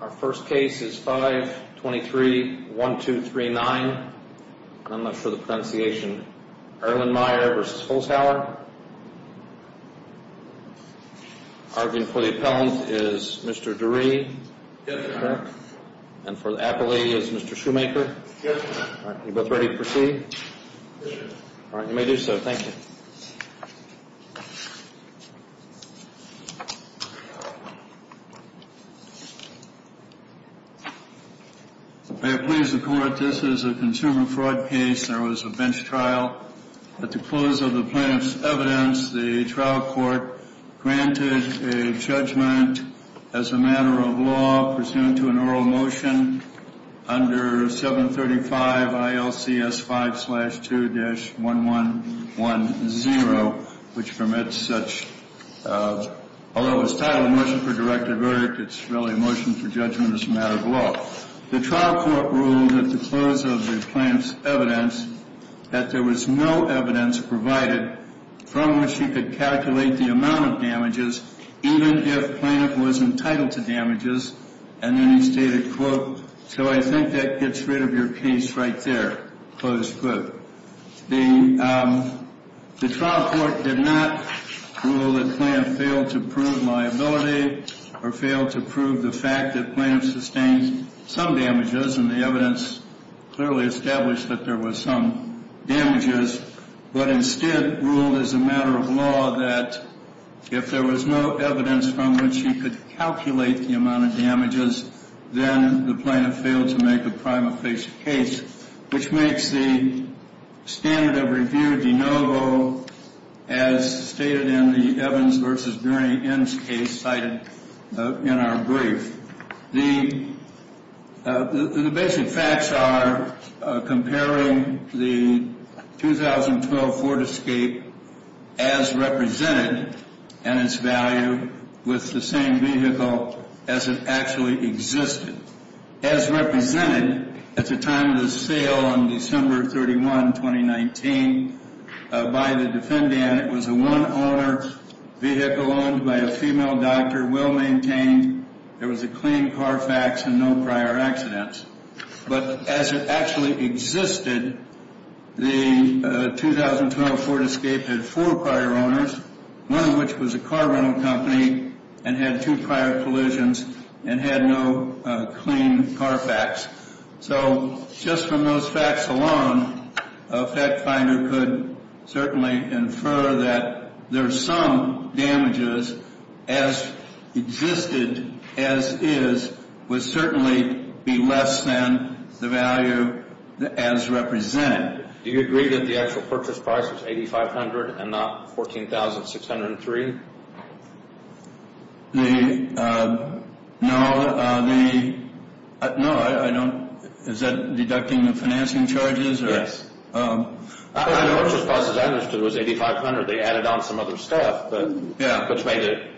Our first case is 523-1239. I'm going to show the pronunciation. Erlenmeyer v. Holzhauer. Arguing for the appellant is Mr. Dury. Yes, sir. And for the appellee is Mr. Shoemaker. Yes, sir. All right, you both ready to proceed? All right, you may do so. Thank you. May it please the Court, this is a consumer fraud case. There was a bench trial. At the close of the plaintiff's evidence, the trial court granted a judgment as a matter of law, pursuant to an oral motion under 735 ILCS 5-2-1110, which permits such. Although it was titled a motion for directed verdict, it's really a motion for judgment as a matter of law. The trial court ruled at the close of the plaintiff's evidence that there was no evidence provided from which he could calculate the amount of damages, even if the plaintiff was entitled to damages. And then he stated, quote, so I think that gets rid of your case right there, close quote. The trial court did not rule that the plaintiff failed to prove liability or failed to prove the fact that plaintiff sustained some damages, and the evidence clearly established that there was some damages, but instead ruled as a matter of law that if there was no evidence from which he could calculate the amount of damages, then the plaintiff failed to make a prima facie case, which makes the standard of review de novo, as stated in the Evans v. Burney N's case cited in our brief. The basic facts are comparing the 2012 Ford Escape as represented and its value with the same vehicle as it actually existed. As represented at the time of the sale on December 31, 2019, by the defendant, it was a one-owner vehicle owned by a female doctor, well-maintained. There was a clean car fax and no prior accidents. But as it actually existed, the 2012 Ford Escape had four prior owners, one of which was a car rental company and had two prior collisions and had no clean car fax. So just from those facts alone, a fact finder could certainly infer that there are some damages as existed as is would certainly be less than the value as represented. Do you agree that the actual purchase price was $8,500 and not $14,603? No, I don't. Is that deducting the financing charges? Yes. The purchase price, as I understood, was $8,500. They added on some other stuff, which made it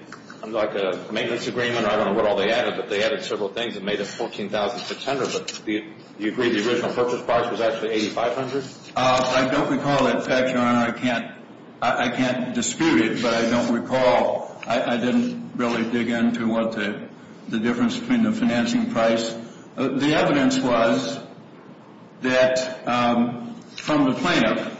like a maintenance agreement. I don't know what all they added, but they added several things and made it $14,600. Do you agree the original purchase price was actually $8,500? I don't recall that fact, Your Honor. I can't dispute it, but I don't recall. I didn't really dig into what the difference between the financing price. The evidence was that from the plaintiff,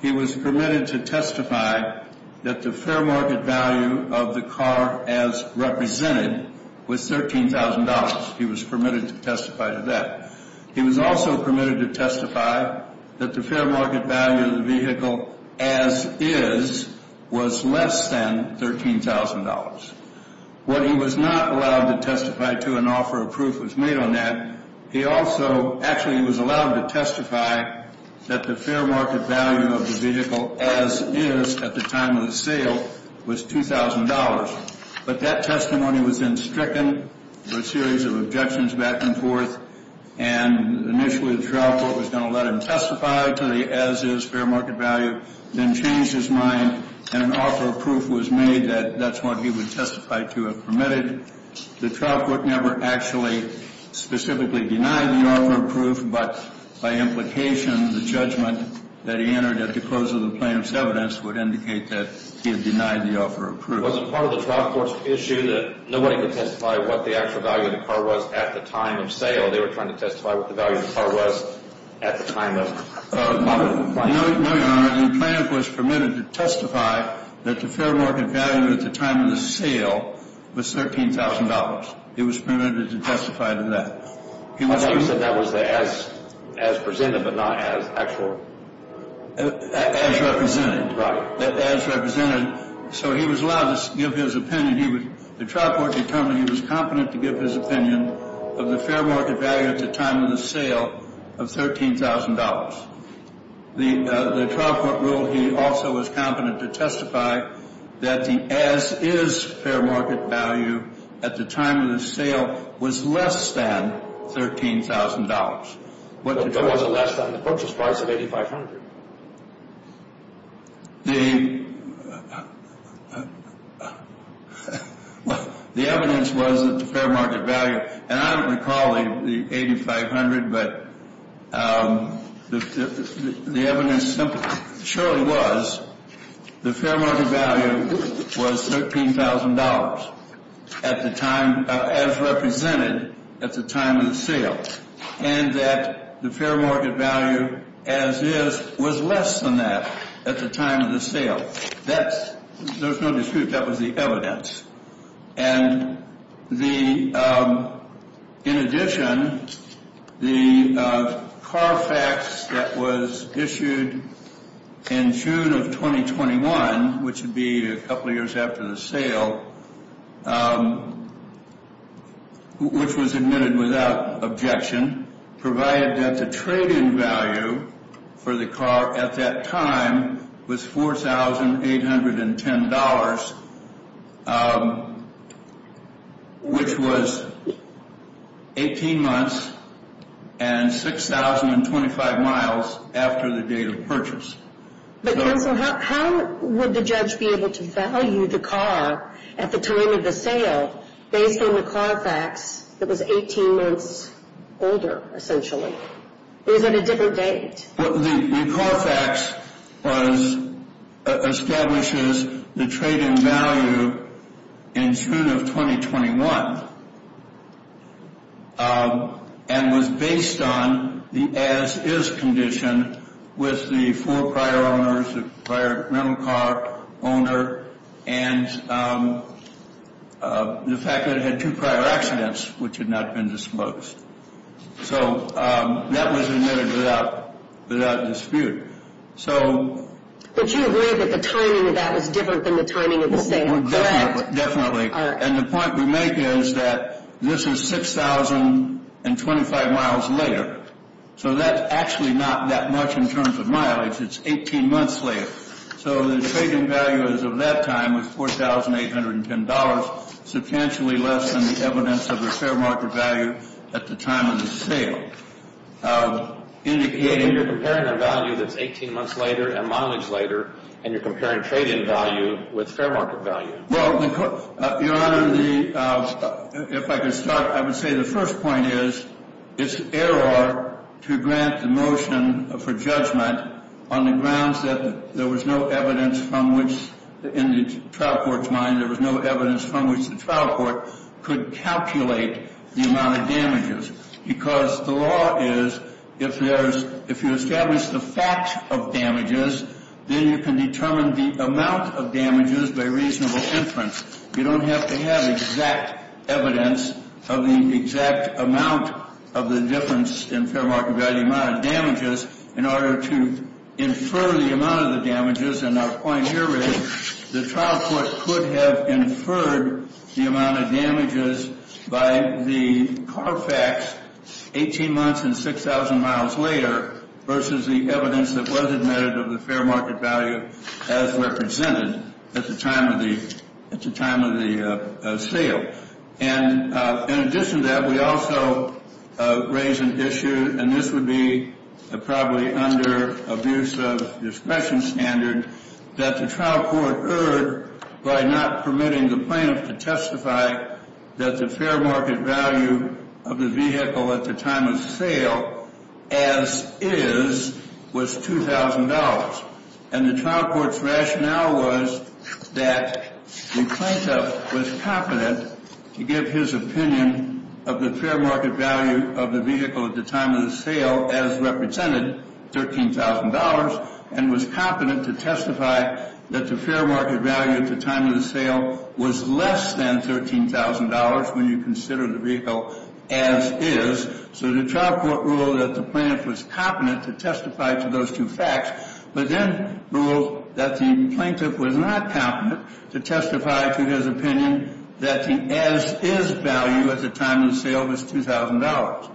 he was permitted to testify that the fair market value of the car as represented was $13,000. He was permitted to testify to that. He was also permitted to testify that the fair market value of the vehicle as is was less than $13,000. When he was not allowed to testify to an offer of proof was made on that, he also actually was allowed to testify that the fair market value of the vehicle as is at the time of the sale was $2,000. But that testimony was then stricken with a series of objections back and forth, and initially the trial court was going to let him testify to the as is fair market value, then changed his mind and an offer of proof was made that that's what he would testify to have permitted. The trial court never actually specifically denied the offer of proof, but by implication the judgment that he entered at the close of the plaintiff's evidence would indicate that he had denied the offer of proof. Was it part of the trial court's issue that nobody could testify what the actual value of the car was at the time of sale? They were trying to testify what the value of the car was at the time of the plaintiff. No, Your Honor. The plaintiff was permitted to testify that the fair market value at the time of the sale was $13,000. He was permitted to testify to that. I thought you said that was as presented but not as actual. As represented. Right. As represented. So he was allowed to give his opinion. The trial court determined he was competent to give his opinion of the fair market value at the time of the sale of $13,000. The trial court ruled he also was competent to testify that the as-is fair market value at the time of the sale was less than $13,000. But it was less than the purchase price of $8,500. The evidence was that the fair market value, and I don't recall the $8,500, but the evidence surely was the fair market value was $13,000 at the time as represented at the time of the sale. And that the fair market value as-is was less than that at the time of the sale. There's no dispute that was the evidence. And in addition, the car fax that was issued in June of 2021, which would be a couple years after the sale, which was admitted without objection, provided that the trade-in value for the car at that time was $4,810. Which was 18 months and 6,025 miles after the date of purchase. But counsel, how would the judge be able to value the car at the time of the sale based on the car fax that was 18 months older, essentially? Or is that a different date? The car fax establishes the trade-in value in June of 2021 and was based on the as-is condition with the four prior owners, the prior rental car owner, and the fact that it had two prior accidents which had not been disclosed. So that was admitted without dispute. So... But you agree that the timing of that was different than the timing of the sale, correct? Definitely. And the point we make is that this is 6,025 miles later. So that's actually not that much in terms of mileage. It's 18 months later. So the trade-in value of that time was $4,810, substantially less than the evidence of the fair market value at the time of the sale, indicating... You're comparing a value that's 18 months later and mileage later, and you're comparing trade-in value with fair market value. Well, Your Honor, if I could start, I would say the first point is it's error to grant the motion for judgment on the grounds that there was no evidence from which, in the trial court's mind, there was no evidence from which the trial court could calculate the amount of damages. Because the law is if there's... If you establish the fact of damages, then you can determine the amount of damages by reasonable inference. You don't have to have exact evidence of the exact amount of the difference in fair market value amount of damages in order to infer the amount of the damages. And our point here is the trial court could have inferred the amount of damages by the CARFAX 18 months and 6,000 miles later versus the evidence that was admitted of the fair market value as represented at the time of the sale. And in addition to that, we also raise an issue, and this would be probably under abuse of discretion standard, that the trial court erred by not permitting the plaintiff to testify that the fair market value of the vehicle at the time of sale, as is, was $2,000. And the trial court's rationale was that the plaintiff was competent to give his opinion of the fair market value of the vehicle at the time of the sale as represented, $13,000, and was competent to testify that the fair market value at the time of the sale was less than $13,000 when you consider the vehicle as is. So the trial court ruled that the plaintiff was competent to testify to those two facts, but then ruled that the plaintiff was not competent to testify to his opinion that the as is value at the time of the sale was $2,000.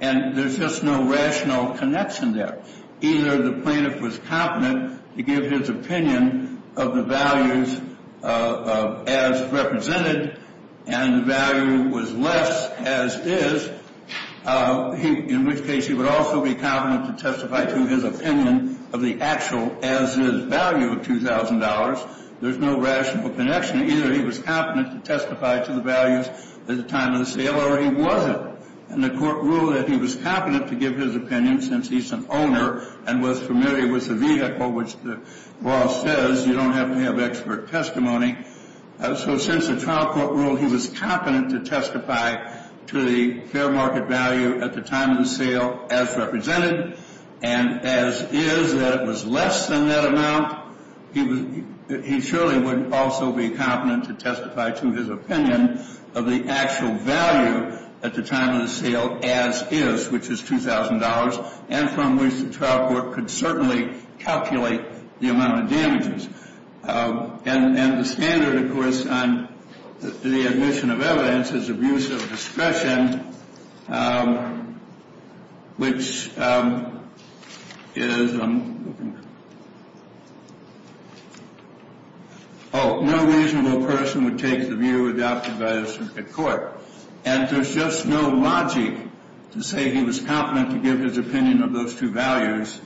And there's just no rational connection there. Either the plaintiff was competent to give his opinion of the values as represented and the value was less as is, in which case he would also be competent to testify to his opinion of the actual as is value of $2,000. There's no rational connection. Either he was competent to testify to the values at the time of the sale or he wasn't. And the court ruled that he was competent to give his opinion since he's an owner and was familiar with the vehicle, which the law says you don't have to have expert testimony. So since the trial court ruled he was competent to testify to the fair market value at the time of the sale as represented and as is, that it was less than that amount, he surely would also be competent to testify to his opinion of the actual value at the time of the sale as is, which is $2,000, and from which the trial court could certainly calculate the amount of damages. And the standard, of course, on the admission of evidence is abuse of discretion, which is, oh, no reasonable person would take the view adopted by the circuit court. And there's just no logic to say he was competent to give his opinion of those two values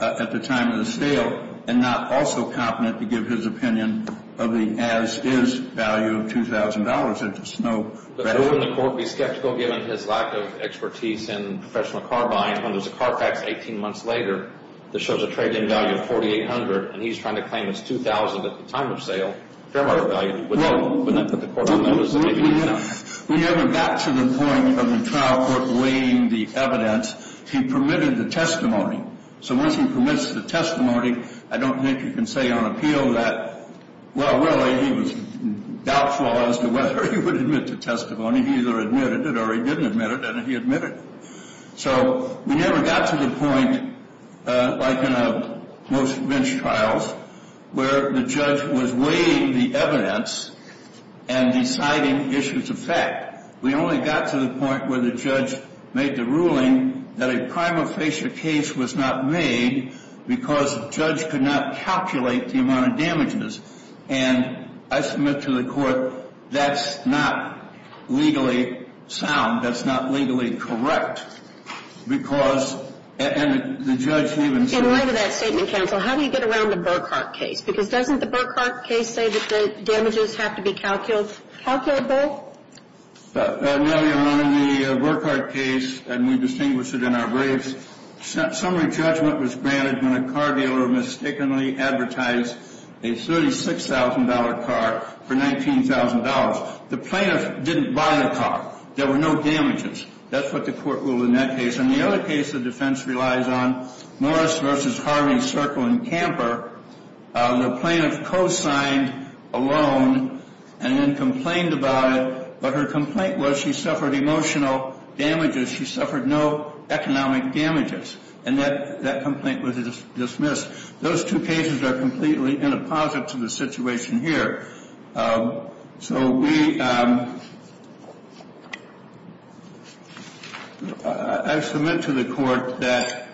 at the time of the sale and not also competent to give his opinion of the as is value of $2,000. There's just no rationale. But wouldn't the court be skeptical given his lack of expertise in professional car buying when there's a car fax 18 months later that shows a trade-in value of $4,800 and he's trying to claim it's $2,000 at the time of sale, fair market value? Wouldn't that put the court on a limb as to maybe not? We never got to the point of the trial court weighing the evidence. He permitted the testimony. So once he permits the testimony, I don't think you can say on appeal that, well, really, he was doubtful as to whether he would admit to testimony. He either admitted it or he didn't admit it and he admitted it. So we never got to the point like in most bench trials where the judge was weighing the evidence and deciding issues of fact. We only got to the point where the judge made the ruling that a prima facie case was not made because the judge could not calculate the amount of damages. And I submit to the court that's not legally sound. That's not legally correct. Because the judge even said... In light of that statement, counsel, how do you get around the Burkhart case? Because doesn't the Burkhart case say that the damages have to be calculable? No, Your Honor. In the Burkhart case, and we distinguish it in our briefs, summary judgment was granted when a car dealer mistakenly advertised a $36,000 car for $19,000. The plaintiff didn't buy the car. There were no damages. That's what the court ruled in that case. And the other case of defense relies on Morris v. Harley, Circle, and Camper. The plaintiff co-signed a loan and then complained about it, but her complaint was she suffered emotional damages. She suffered no economic damages. And that complaint was dismissed. Those two cases are completely inopposite to the situation here. So we... I submit to the court that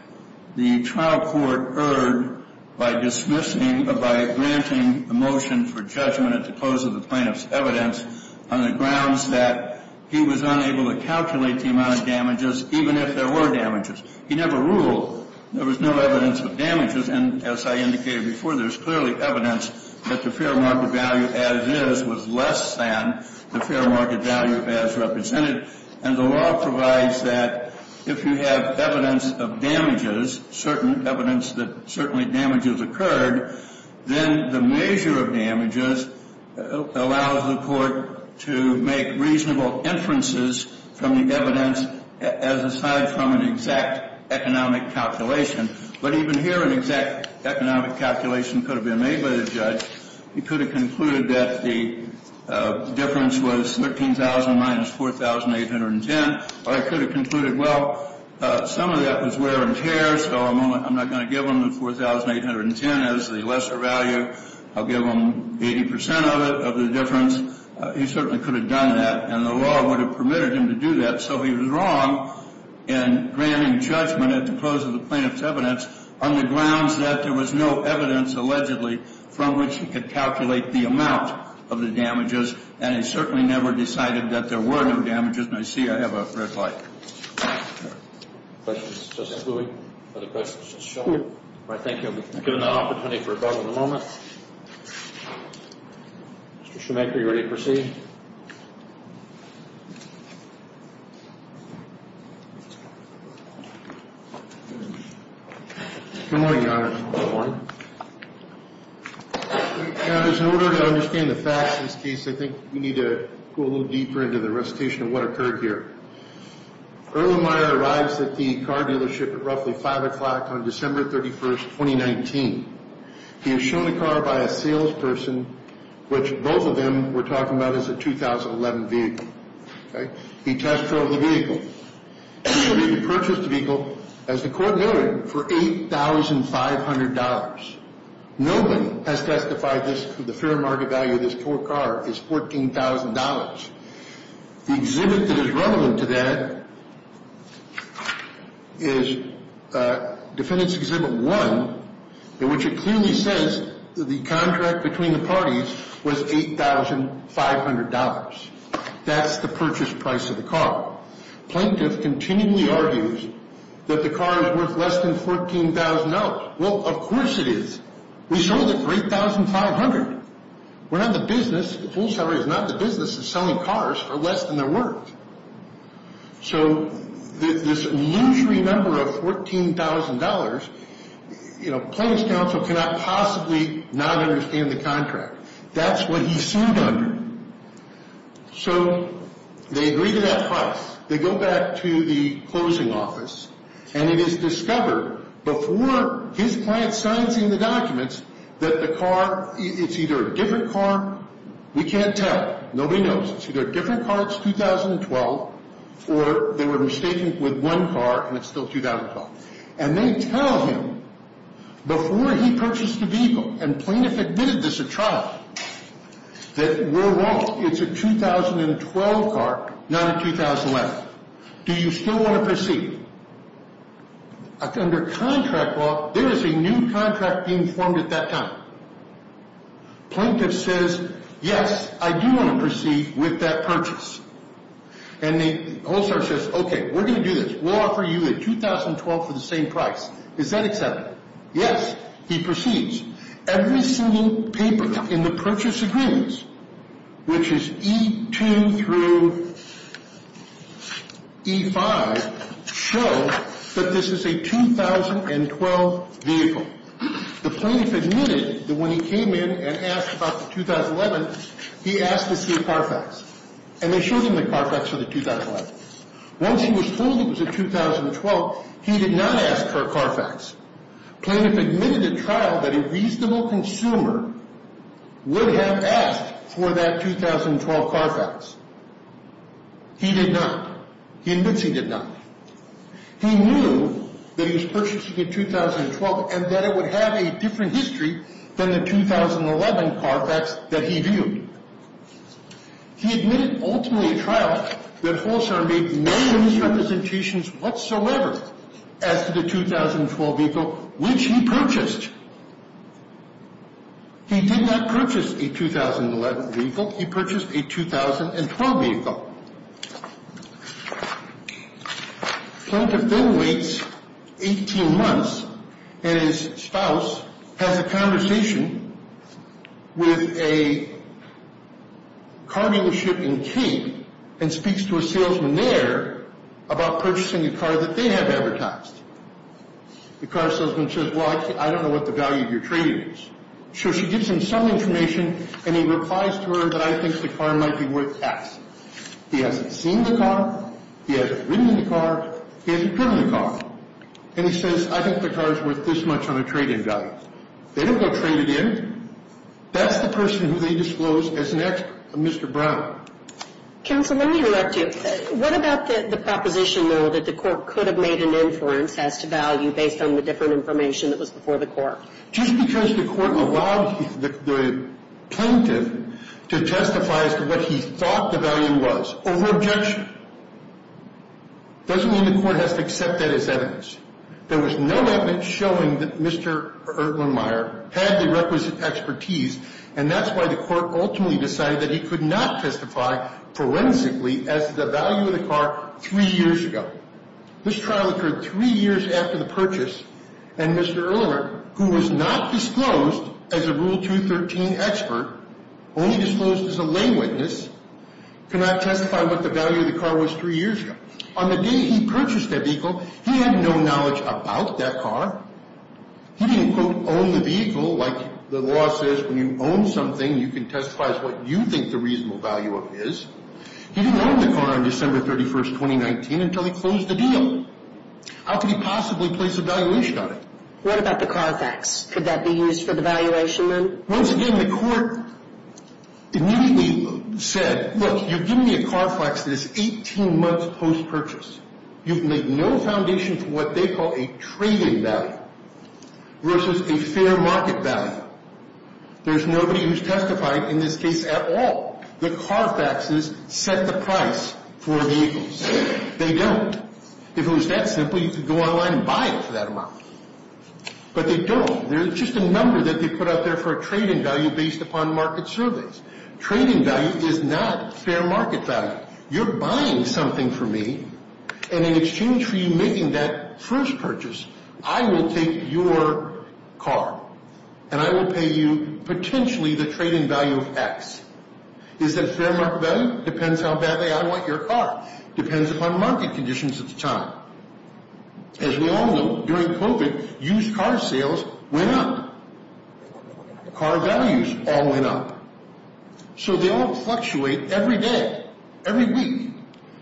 the trial court erred by dismissing or by granting a motion for judgment at the close of the plaintiff's evidence on the grounds that he was unable to calculate the amount of damages, even if there were damages. He never ruled. There was no evidence of damages. And as I indicated before, there's clearly evidence that the fair market value as is was less than the fair market value as represented. And the law provides that if you have evidence of damages, certain evidence that certainly damages occurred, then the measure of damages allows the court to make reasonable inferences from the evidence as aside from an exact economic calculation. But even here, an exact economic calculation could have been made by the judge. He could have concluded that the difference was $13,000 minus $4,810. Or he could have concluded, well, some of that was wear and tear, so I'm not going to give him the $4,810 as the lesser value. I'll give him 80 percent of it, of the difference. He certainly could have done that. And the law would have permitted him to do that. So he was wrong in granting judgment at the close of the plaintiff's evidence on the grounds that there was no evidence, allegedly, from which he could calculate the amount of the damages. And he certainly never decided that there were no damages. And I see I have a red light. Questions, Justice Lewy? Other questions, Justice Schill? All right, thank you. We've given that opportunity for a vote at the moment. Mr. Schimek, are you ready to proceed? Good morning, Your Honor. Good morning. Now, in order to understand the facts of this case, I think we need to go a little deeper into the recitation of what occurred here. Earl O'Meara arrives at the car dealership at roughly 5 o'clock on December 31, 2019. He is shown a car by a salesperson, which both of them were talking about as a 2011 vehicle. He tests for the vehicle. He purchased the vehicle, as the court noted, for $8,500. Nobody has testified that the fair market value of this poor car is $14,000. The exhibit that is relevant to that is Defendant's Exhibit 1, in which it clearly says that the contract between the parties was $8,500. That's the purchase price of the car. Plaintiff continually argues that the car is worth less than $14,000. Well, of course it is. We sold it for $8,500. We're not the business. The full salary is not the business of selling cars for less than they're worth. So this illusory number of $14,000, you know, Plaintiff's counsel cannot possibly not understand the contract. That's what he sued under. So they agree to that price. They go back to the closing office, and it is discovered before his client signs in the documents that the car, it's either a different car. We can't tell. Nobody knows. It's either a different car, it's 2012, or they were mistaken with one car, and it's still 2012. And they tell him, before he purchased the vehicle, and Plaintiff admitted this at trial, that we're wrong. It's a 2012 car, not a 2011. Do you still want to proceed? Under contract law, there is a new contract being formed at that time. Plaintiff says, yes, I do want to proceed with that purchase. And the whole story says, okay, we're going to do this. We'll offer you a 2012 for the same price. Is that acceptable? Yes. He proceeds. Every single paper in the purchase agreements, which is E2 through E5, show that this is a 2012 vehicle. The plaintiff admitted that when he came in and asked about the 2011, he asked to see a Carfax. And they showed him the Carfax for the 2011. Once he was told it was a 2012, he did not ask for a Carfax. Plaintiff admitted at trial that a reasonable consumer would have asked for that 2012 Carfax. He did not. He admits he did not. He knew that he was purchasing a 2012 and that it would have a different history than the 2011 Carfax that he viewed. He admitted ultimately at trial that Holshorn made no misrepresentations whatsoever as to the 2012 vehicle, which he purchased. He did not purchase a 2011 vehicle. He purchased a 2012 vehicle. Plaintiff then waits 18 months, and his spouse has a conversation with a car dealership in Cape and speaks to a salesman there about purchasing a car that they have advertised. The car salesman says, well, I don't know what the value of your trade is. So she gives him some information, and he replies to her that I think the car might be worth taxing. He hasn't seen the car. He hasn't ridden in the car. He hasn't driven the car. And he says, I think the car is worth this much on a trade-in value. They don't go trade it in. That's the person who they disclose as an expert, Mr. Brown. Counsel, let me interrupt you. What about the proposition, though, that the court could have made an inference as to value based on the different information that was before the court? Just because the court allowed the plaintiff to testify as to what he thought the value was over objection, doesn't mean the court has to accept that as evidence. There was no evidence showing that Mr. Erlenmeyer had the requisite expertise, and that's why the court ultimately decided that he could not testify forensically as to the value of the car three years ago. This trial occurred three years after the purchase, and Mr. Erlenmeyer, who was not disclosed as a Rule 213 expert, only disclosed as a lay witness, could not testify what the value of the car was three years ago. On the day he purchased that vehicle, he had no knowledge about that car. He didn't, quote, own the vehicle like the law says. When you own something, you can testify as to what you think the reasonable value of it is. He didn't own the car on December 31, 2019, until he closed the deal. How could he possibly place a valuation on it? What about the car fax? Could that be used for the valuation then? Once again, the court immediately said, look, you've given me a car fax that is 18 months post-purchase. You've made no foundation for what they call a trading value versus a fair market value. There's nobody who's testified in this case at all. The car faxes set the price for vehicles. They don't. If it was that simple, you could go online and buy it for that amount. But they don't. There's just a number that they put out there for a trading value based upon market surveys. Trading value is not fair market value. You're buying something for me, and in exchange for you making that first purchase, I will take your car and I will pay you potentially the trading value of X. Is that fair market value? Depends how badly I want your car. Depends upon market conditions at the time. As we all know, during COVID, used car sales went up. Car values all went up. So they all fluctuate every day, every week.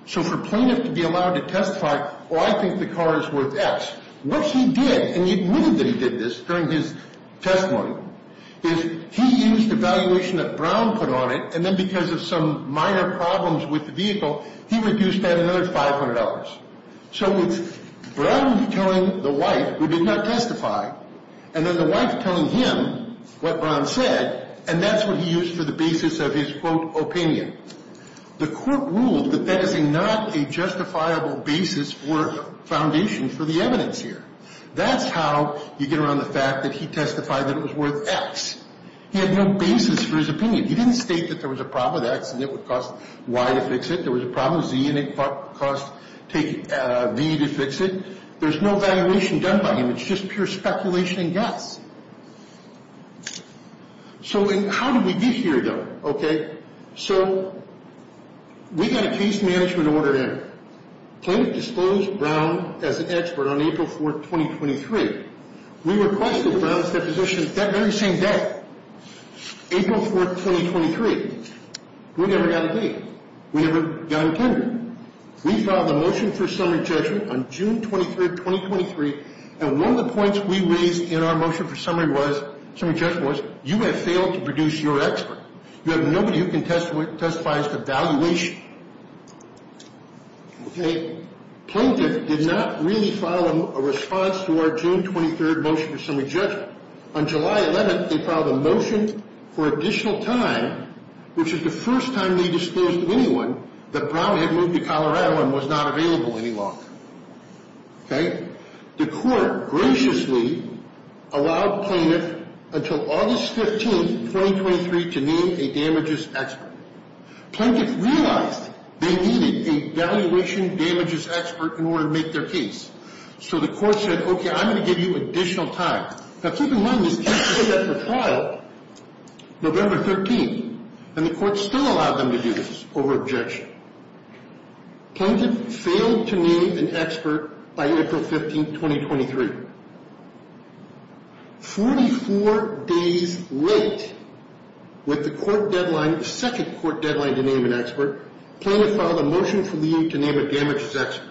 So for plaintiff to be allowed to testify, oh, I think the car is worth X, what he did, and he admitted that he did this during his testimony, is he used the valuation that Brown put on it, and then because of some minor problems with the vehicle, he reduced that another $500. So it's Brown telling the wife, who did not testify, and then the wife telling him what Brown said, and that's what he used for the basis of his, quote, opinion. The court ruled that that is not a justifiable basis or foundation for the evidence here. That's how you get around the fact that he testified that it was worth X. He had no basis for his opinion. He didn't state that there was a problem with X and it would cost Y to fix it. There was a problem with Z and it cost V to fix it. There's no valuation done by him. It's just pure speculation and guess. So how did we get here, though? Okay, so we got a case management order in. Plaintiff disclosed Brown as an expert on April 4th, 2023. We requested Brown's deposition that very same day, April 4th, 2023. We never got a date. We never got intended. We filed a motion for summary judgment on June 23rd, 2023, and one of the points we raised in our motion for summary judgment was, you have failed to produce your expert. You have nobody who can testify as to valuation. Plaintiff did not really file a response to our June 23rd motion for summary judgment. On July 11th, they filed a motion for additional time, which is the first time they disclosed to anyone that Brown had moved to Colorado and was not available any longer. Okay? The court graciously allowed plaintiff until August 15th, 2023, to name a damages expert. Plaintiff realized they needed a valuation damages expert in order to make their case, so the court said, okay, I'm going to give you additional time. Now, keep in mind, this case was set up for trial November 13th, and the court still allowed them to do this over objection. Plaintiff failed to name an expert by April 15th, 2023. 44 days late with the court deadline, the second court deadline to name an expert, plaintiff filed a motion for leave to name a damages expert.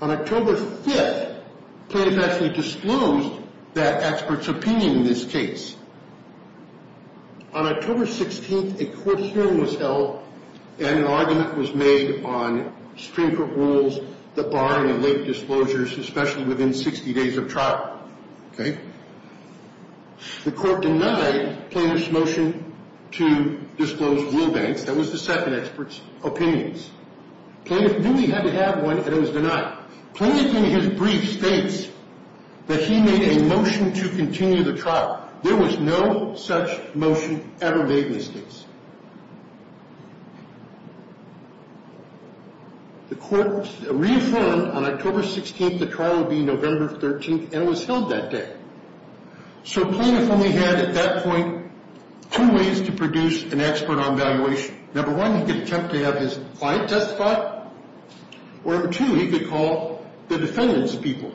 On October 5th, plaintiff actually disclosed that expert's opinion in this case. On October 16th, a court hearing was held, and an argument was made on string court rules that bar in the late disclosures, especially within 60 days of trial. Okay? The court denied plaintiff's motion to disclose blue banks. That was the second expert's opinions. Plaintiff knew he had to have one, and it was denied. Plaintiff, in his brief, states that he made a motion to continue the trial. There was no such motion ever made in this case. The court reaffirmed on October 16th the trial would be November 13th, and it was held that day. So plaintiff only had, at that point, two ways to produce an expert on valuation. Number one, he could attempt to have his client testify, or two, he could call the defendants' people,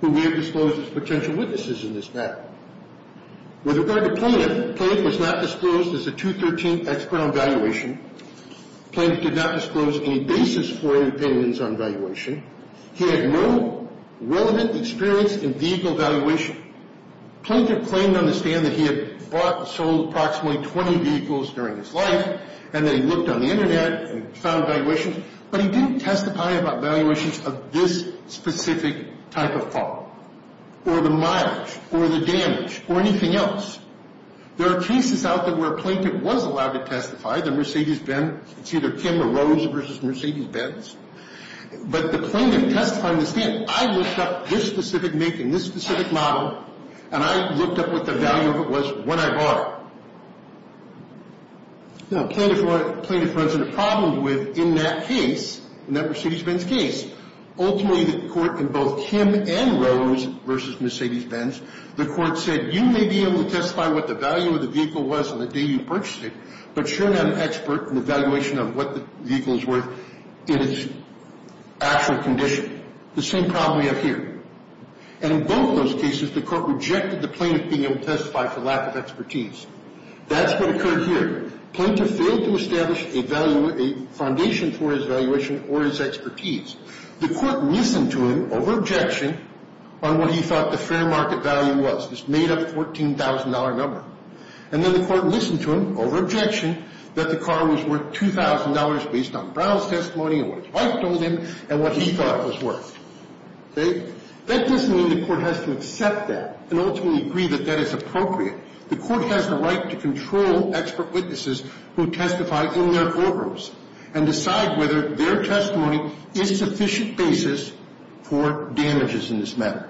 who we have disclosed as potential witnesses in this matter. With regard to plaintiff, plaintiff was not disclosed as a 2013 expert on valuation. Plaintiff did not disclose any basis for his opinions on valuation. He had no relevant experience in vehicle valuation. Plaintiff claimed to understand that he had bought and sold approximately 20 vehicles during his life, and that he looked on the Internet and found valuations, but he didn't testify about valuations of this specific type of car or the mileage or the damage or anything else. There are cases out there where a plaintiff was allowed to testify, the Mercedes Benz. It's either Kim or Rose versus Mercedes Benz. But the plaintiff testifying in this case, I looked up this specific make and this specific model, and I looked up what the value of it was when I bought it. Now, plaintiff runs into problems with, in that case, in that Mercedes Benz case, ultimately the court in both Kim and Rose versus Mercedes Benz, the court said, you may be able to testify what the value of the vehicle was on the day you purchased it, but you're not an expert in the valuation of what the vehicle is worth in its actual condition. The same problem we have here. And in both of those cases, the court rejected the plaintiff being able to testify for lack of expertise. That's what occurred here. Plaintiff failed to establish a foundation for his valuation or his expertise. The court listened to him over objection on what he thought the fair market value was, this made-up $14,000 number. And then the court listened to him over objection that the car was worth $2,000 based on Brown's testimony and what his wife told him and what he thought was worth. Okay? That doesn't mean the court has to accept that and ultimately agree that that is appropriate. The court has the right to control expert witnesses who testify in their courtrooms and decide whether their testimony is sufficient basis for damages in this matter.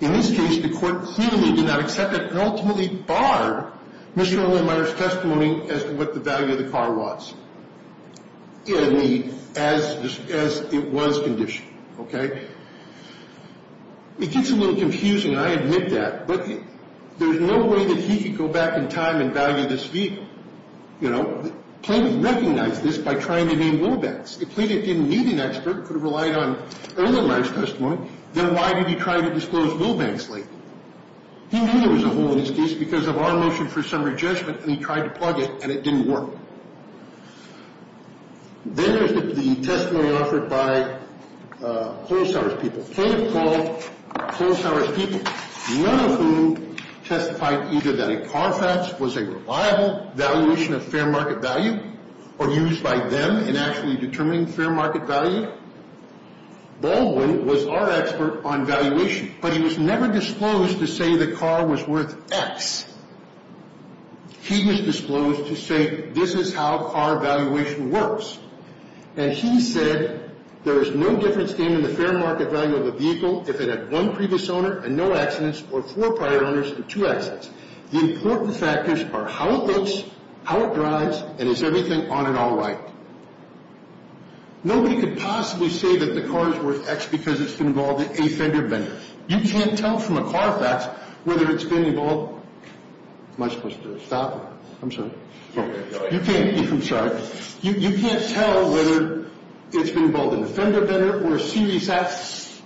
In this case, the court clearly did not accept it and ultimately barred Mr. Olenmeier's testimony as to what the value of the car was as it was conditioned. Okay? It gets a little confusing, and I admit that. But there's no way that he could go back in time and value this vehicle. You know? Plaintiff recognized this by trying to name Wilbanks. If Plaintiff didn't need an expert, could have relied on Olenmeier's testimony, then why did he try to disclose Wilbanks' label? He knew there was a hole in this case because of our motion for summary judgment, and he tried to plug it, and it didn't work. Then there's the testimony offered by Holzhauer's people. Plaintiff called Holzhauer's people. None of whom testified either that a car theft was a reliable valuation of fair market value or used by them in actually determining fair market value. Baldwin was our expert on valuation, but he was never disclosed to say the car was worth X. He was disclosed to say this is how car valuation works. And he said there is no difference in the fair market value of a vehicle if it had one previous owner and no accidents or four prior owners and two accidents. The important factors are how it looks, how it drives, and is everything on it all right. Nobody could possibly say that the car is worth X because it's been involved in a fender bender. You can't tell from a car theft whether it's been involved in a fender bender or a series X.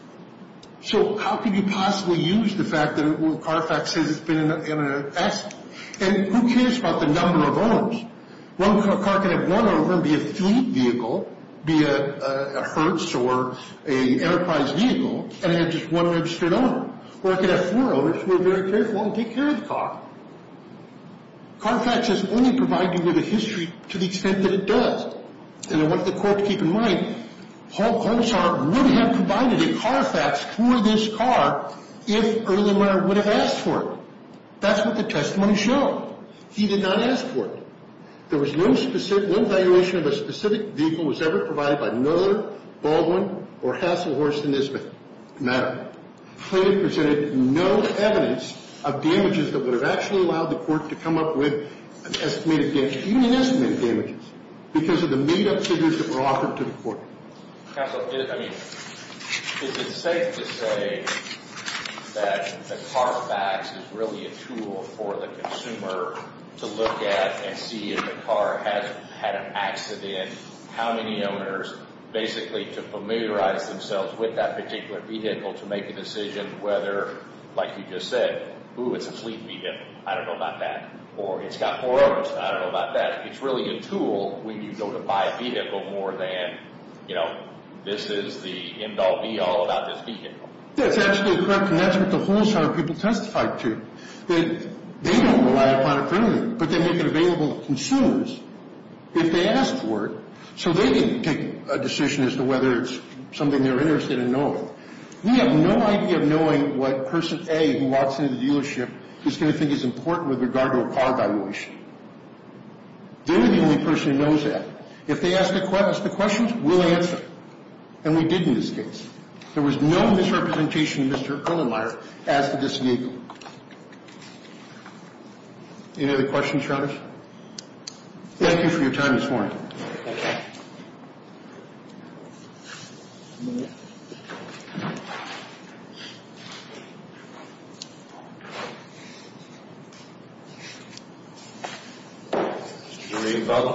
So how could you possibly use the fact that Carfax says it's been in an accident? And who cares about the number of owners? One car can have one owner and be a fleet vehicle, be a Hertz or an Enterprise vehicle, and have just one registered owner. Or it could have four owners who are very careful and take care of the car. Carfax has only provided you with a history to the extent that it does. And I want the court to keep in mind, Paul Colshar would have provided a Carfax for this car if Erlinger would have asked for it. That's what the testimony showed. He did not ask for it. There was no specific – no valuation of a specific vehicle was ever provided by Miller, Baldwin, or Hasselhorst and Nisman. Matter of fact, the claim presented no evidence of damages that would have actually allowed the court to come up with an estimated damage, because of the made-up figures that were offered to the court. Counsel, I mean, is it safe to say that the Carfax is really a tool for the consumer to look at and see if the car has had an accident, how many owners, basically to familiarize themselves with that particular vehicle to make a decision whether, like you just said, ooh, it's a fleet vehicle, I don't know about that. Or it's got four owners, I don't know about that. It's really a tool when you go to buy a vehicle more than, you know, this is the end-all be-all about this vehicle. That's absolutely correct, and that's what the Colshar people testified to, that they don't rely upon it permanently, but they make it available to consumers if they ask for it so they can take a decision as to whether it's something they're interested in knowing. We have no idea of knowing what person A who walks into the dealership is going to think is important with regard to a car valuation. They're the only person who knows that. If they ask the questions, we'll answer, and we did in this case. There was no misrepresentation of Mr. Irlenmeier as to this vehicle. Any other questions, Your Honor? Thank you for your time this morning.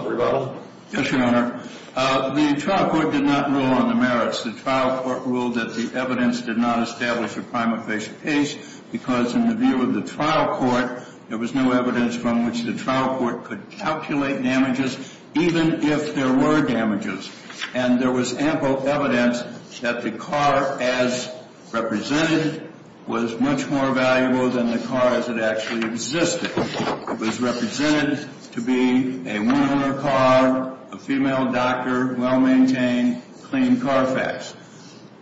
Rebuttal? Yes, Your Honor. The trial court did not rule on the merits. The trial court ruled that the evidence did not establish a prime official case because in the view of the trial court, there was no evidence from which the trial court could calculate damages, even if there were damages. And there was ample evidence that the car as represented was much more valuable than the car as it actually existed. It was represented to be a one-owner car, a female doctor, well-maintained, clean Carfax.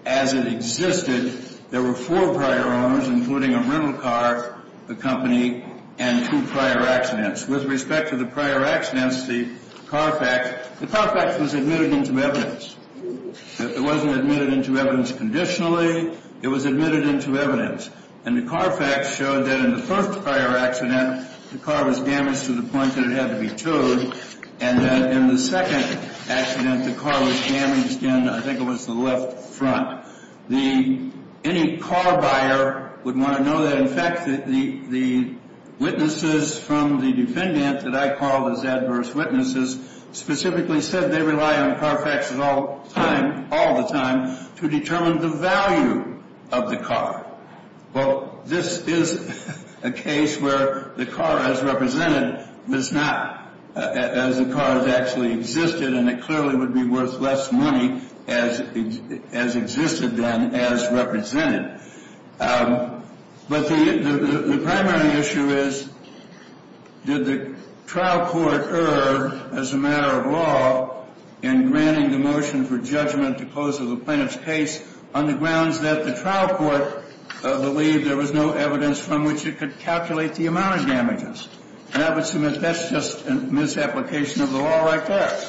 As it existed, there were four prior owners, including a rental car, the company, and two prior accidents. With respect to the prior accidents, the Carfax, the Carfax was admitted into evidence. It wasn't admitted into evidence conditionally. It was admitted into evidence. And the Carfax showed that in the first prior accident, the car was damaged to the point that it had to be towed, and that in the second accident, the car was damaged in, I think it was the left front. Any car buyer would want to know that, in fact, the witnesses from the defendant that I called as adverse witnesses specifically said they rely on Carfax all the time to determine the value of the car. Well, this is a case where the car as represented does not, as the car as it actually existed, and it clearly would be worth less money as existed then as represented. But the primary issue is, did the trial court err, as a matter of law, in granting the motion for judgment to close the plaintiff's case on the grounds that the trial court believed there was no evidence from which it could calculate the amount of damages? And I would submit that's just a misapplication of the law right there.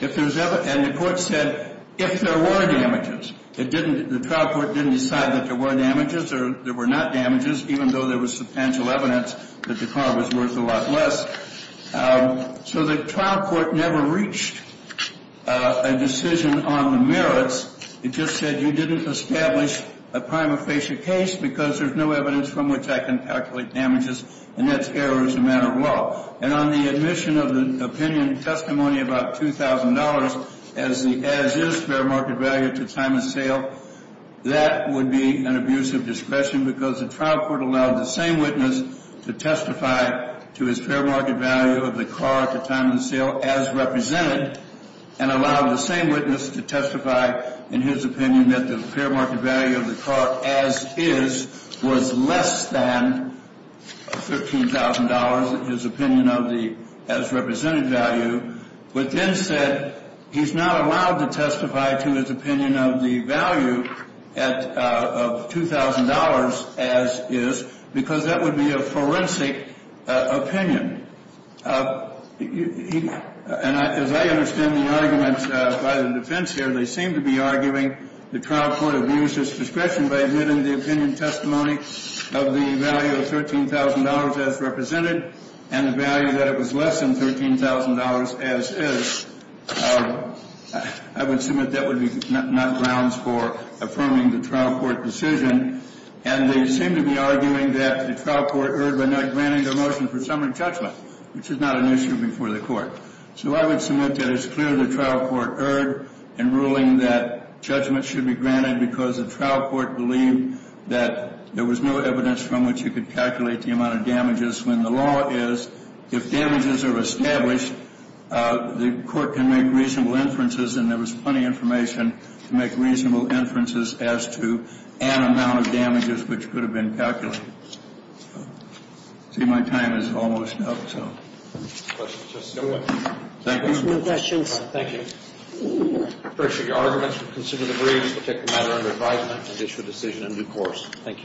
And the court said if there were damages. The trial court didn't decide that there were damages or there were not damages, even though there was substantial evidence that the car was worth a lot less. So the trial court never reached a decision on the merits. It just said you didn't establish a prima facie case because there's no evidence from which I can calculate damages, and that's error as a matter of law. And on the admission of the opinion and testimony about $2,000 as is fair market value at the time of sale, that would be an abuse of discretion because the trial court allowed the same witness to testify to his fair market value of the car at the time of sale as represented and allowed the same witness to testify in his opinion that the fair market value of the car as is was less than $15,000, his opinion of the as represented value, but then said he's not allowed to testify to his opinion of the value of $2,000 as is because that would be a forensic opinion. And as I understand the arguments by the defense here, they seem to be arguing the trial court abused his discretion by admitting the opinion and testimony of the value of $13,000 as represented and the value that it was less than $13,000 as is. I would submit that would be not grounds for affirming the trial court decision. And they seem to be arguing that the trial court erred by not granting the motion for summary judgment, which is not an issue before the court. So I would submit that it's clear the trial court erred in ruling that judgment should be granted because the trial court believed that there was no evidence from which you could calculate the amount of damages when the law is if damages are established, the court can make reasonable inferences and there was plenty of information to make reasonable inferences as to an amount of damages which could have been calculated. See, my time is almost up. Thank you. No questions. Thank you. I appreciate your arguments. We consider the briefs to take the matter under advisement and issue a decision in due course. Thank you.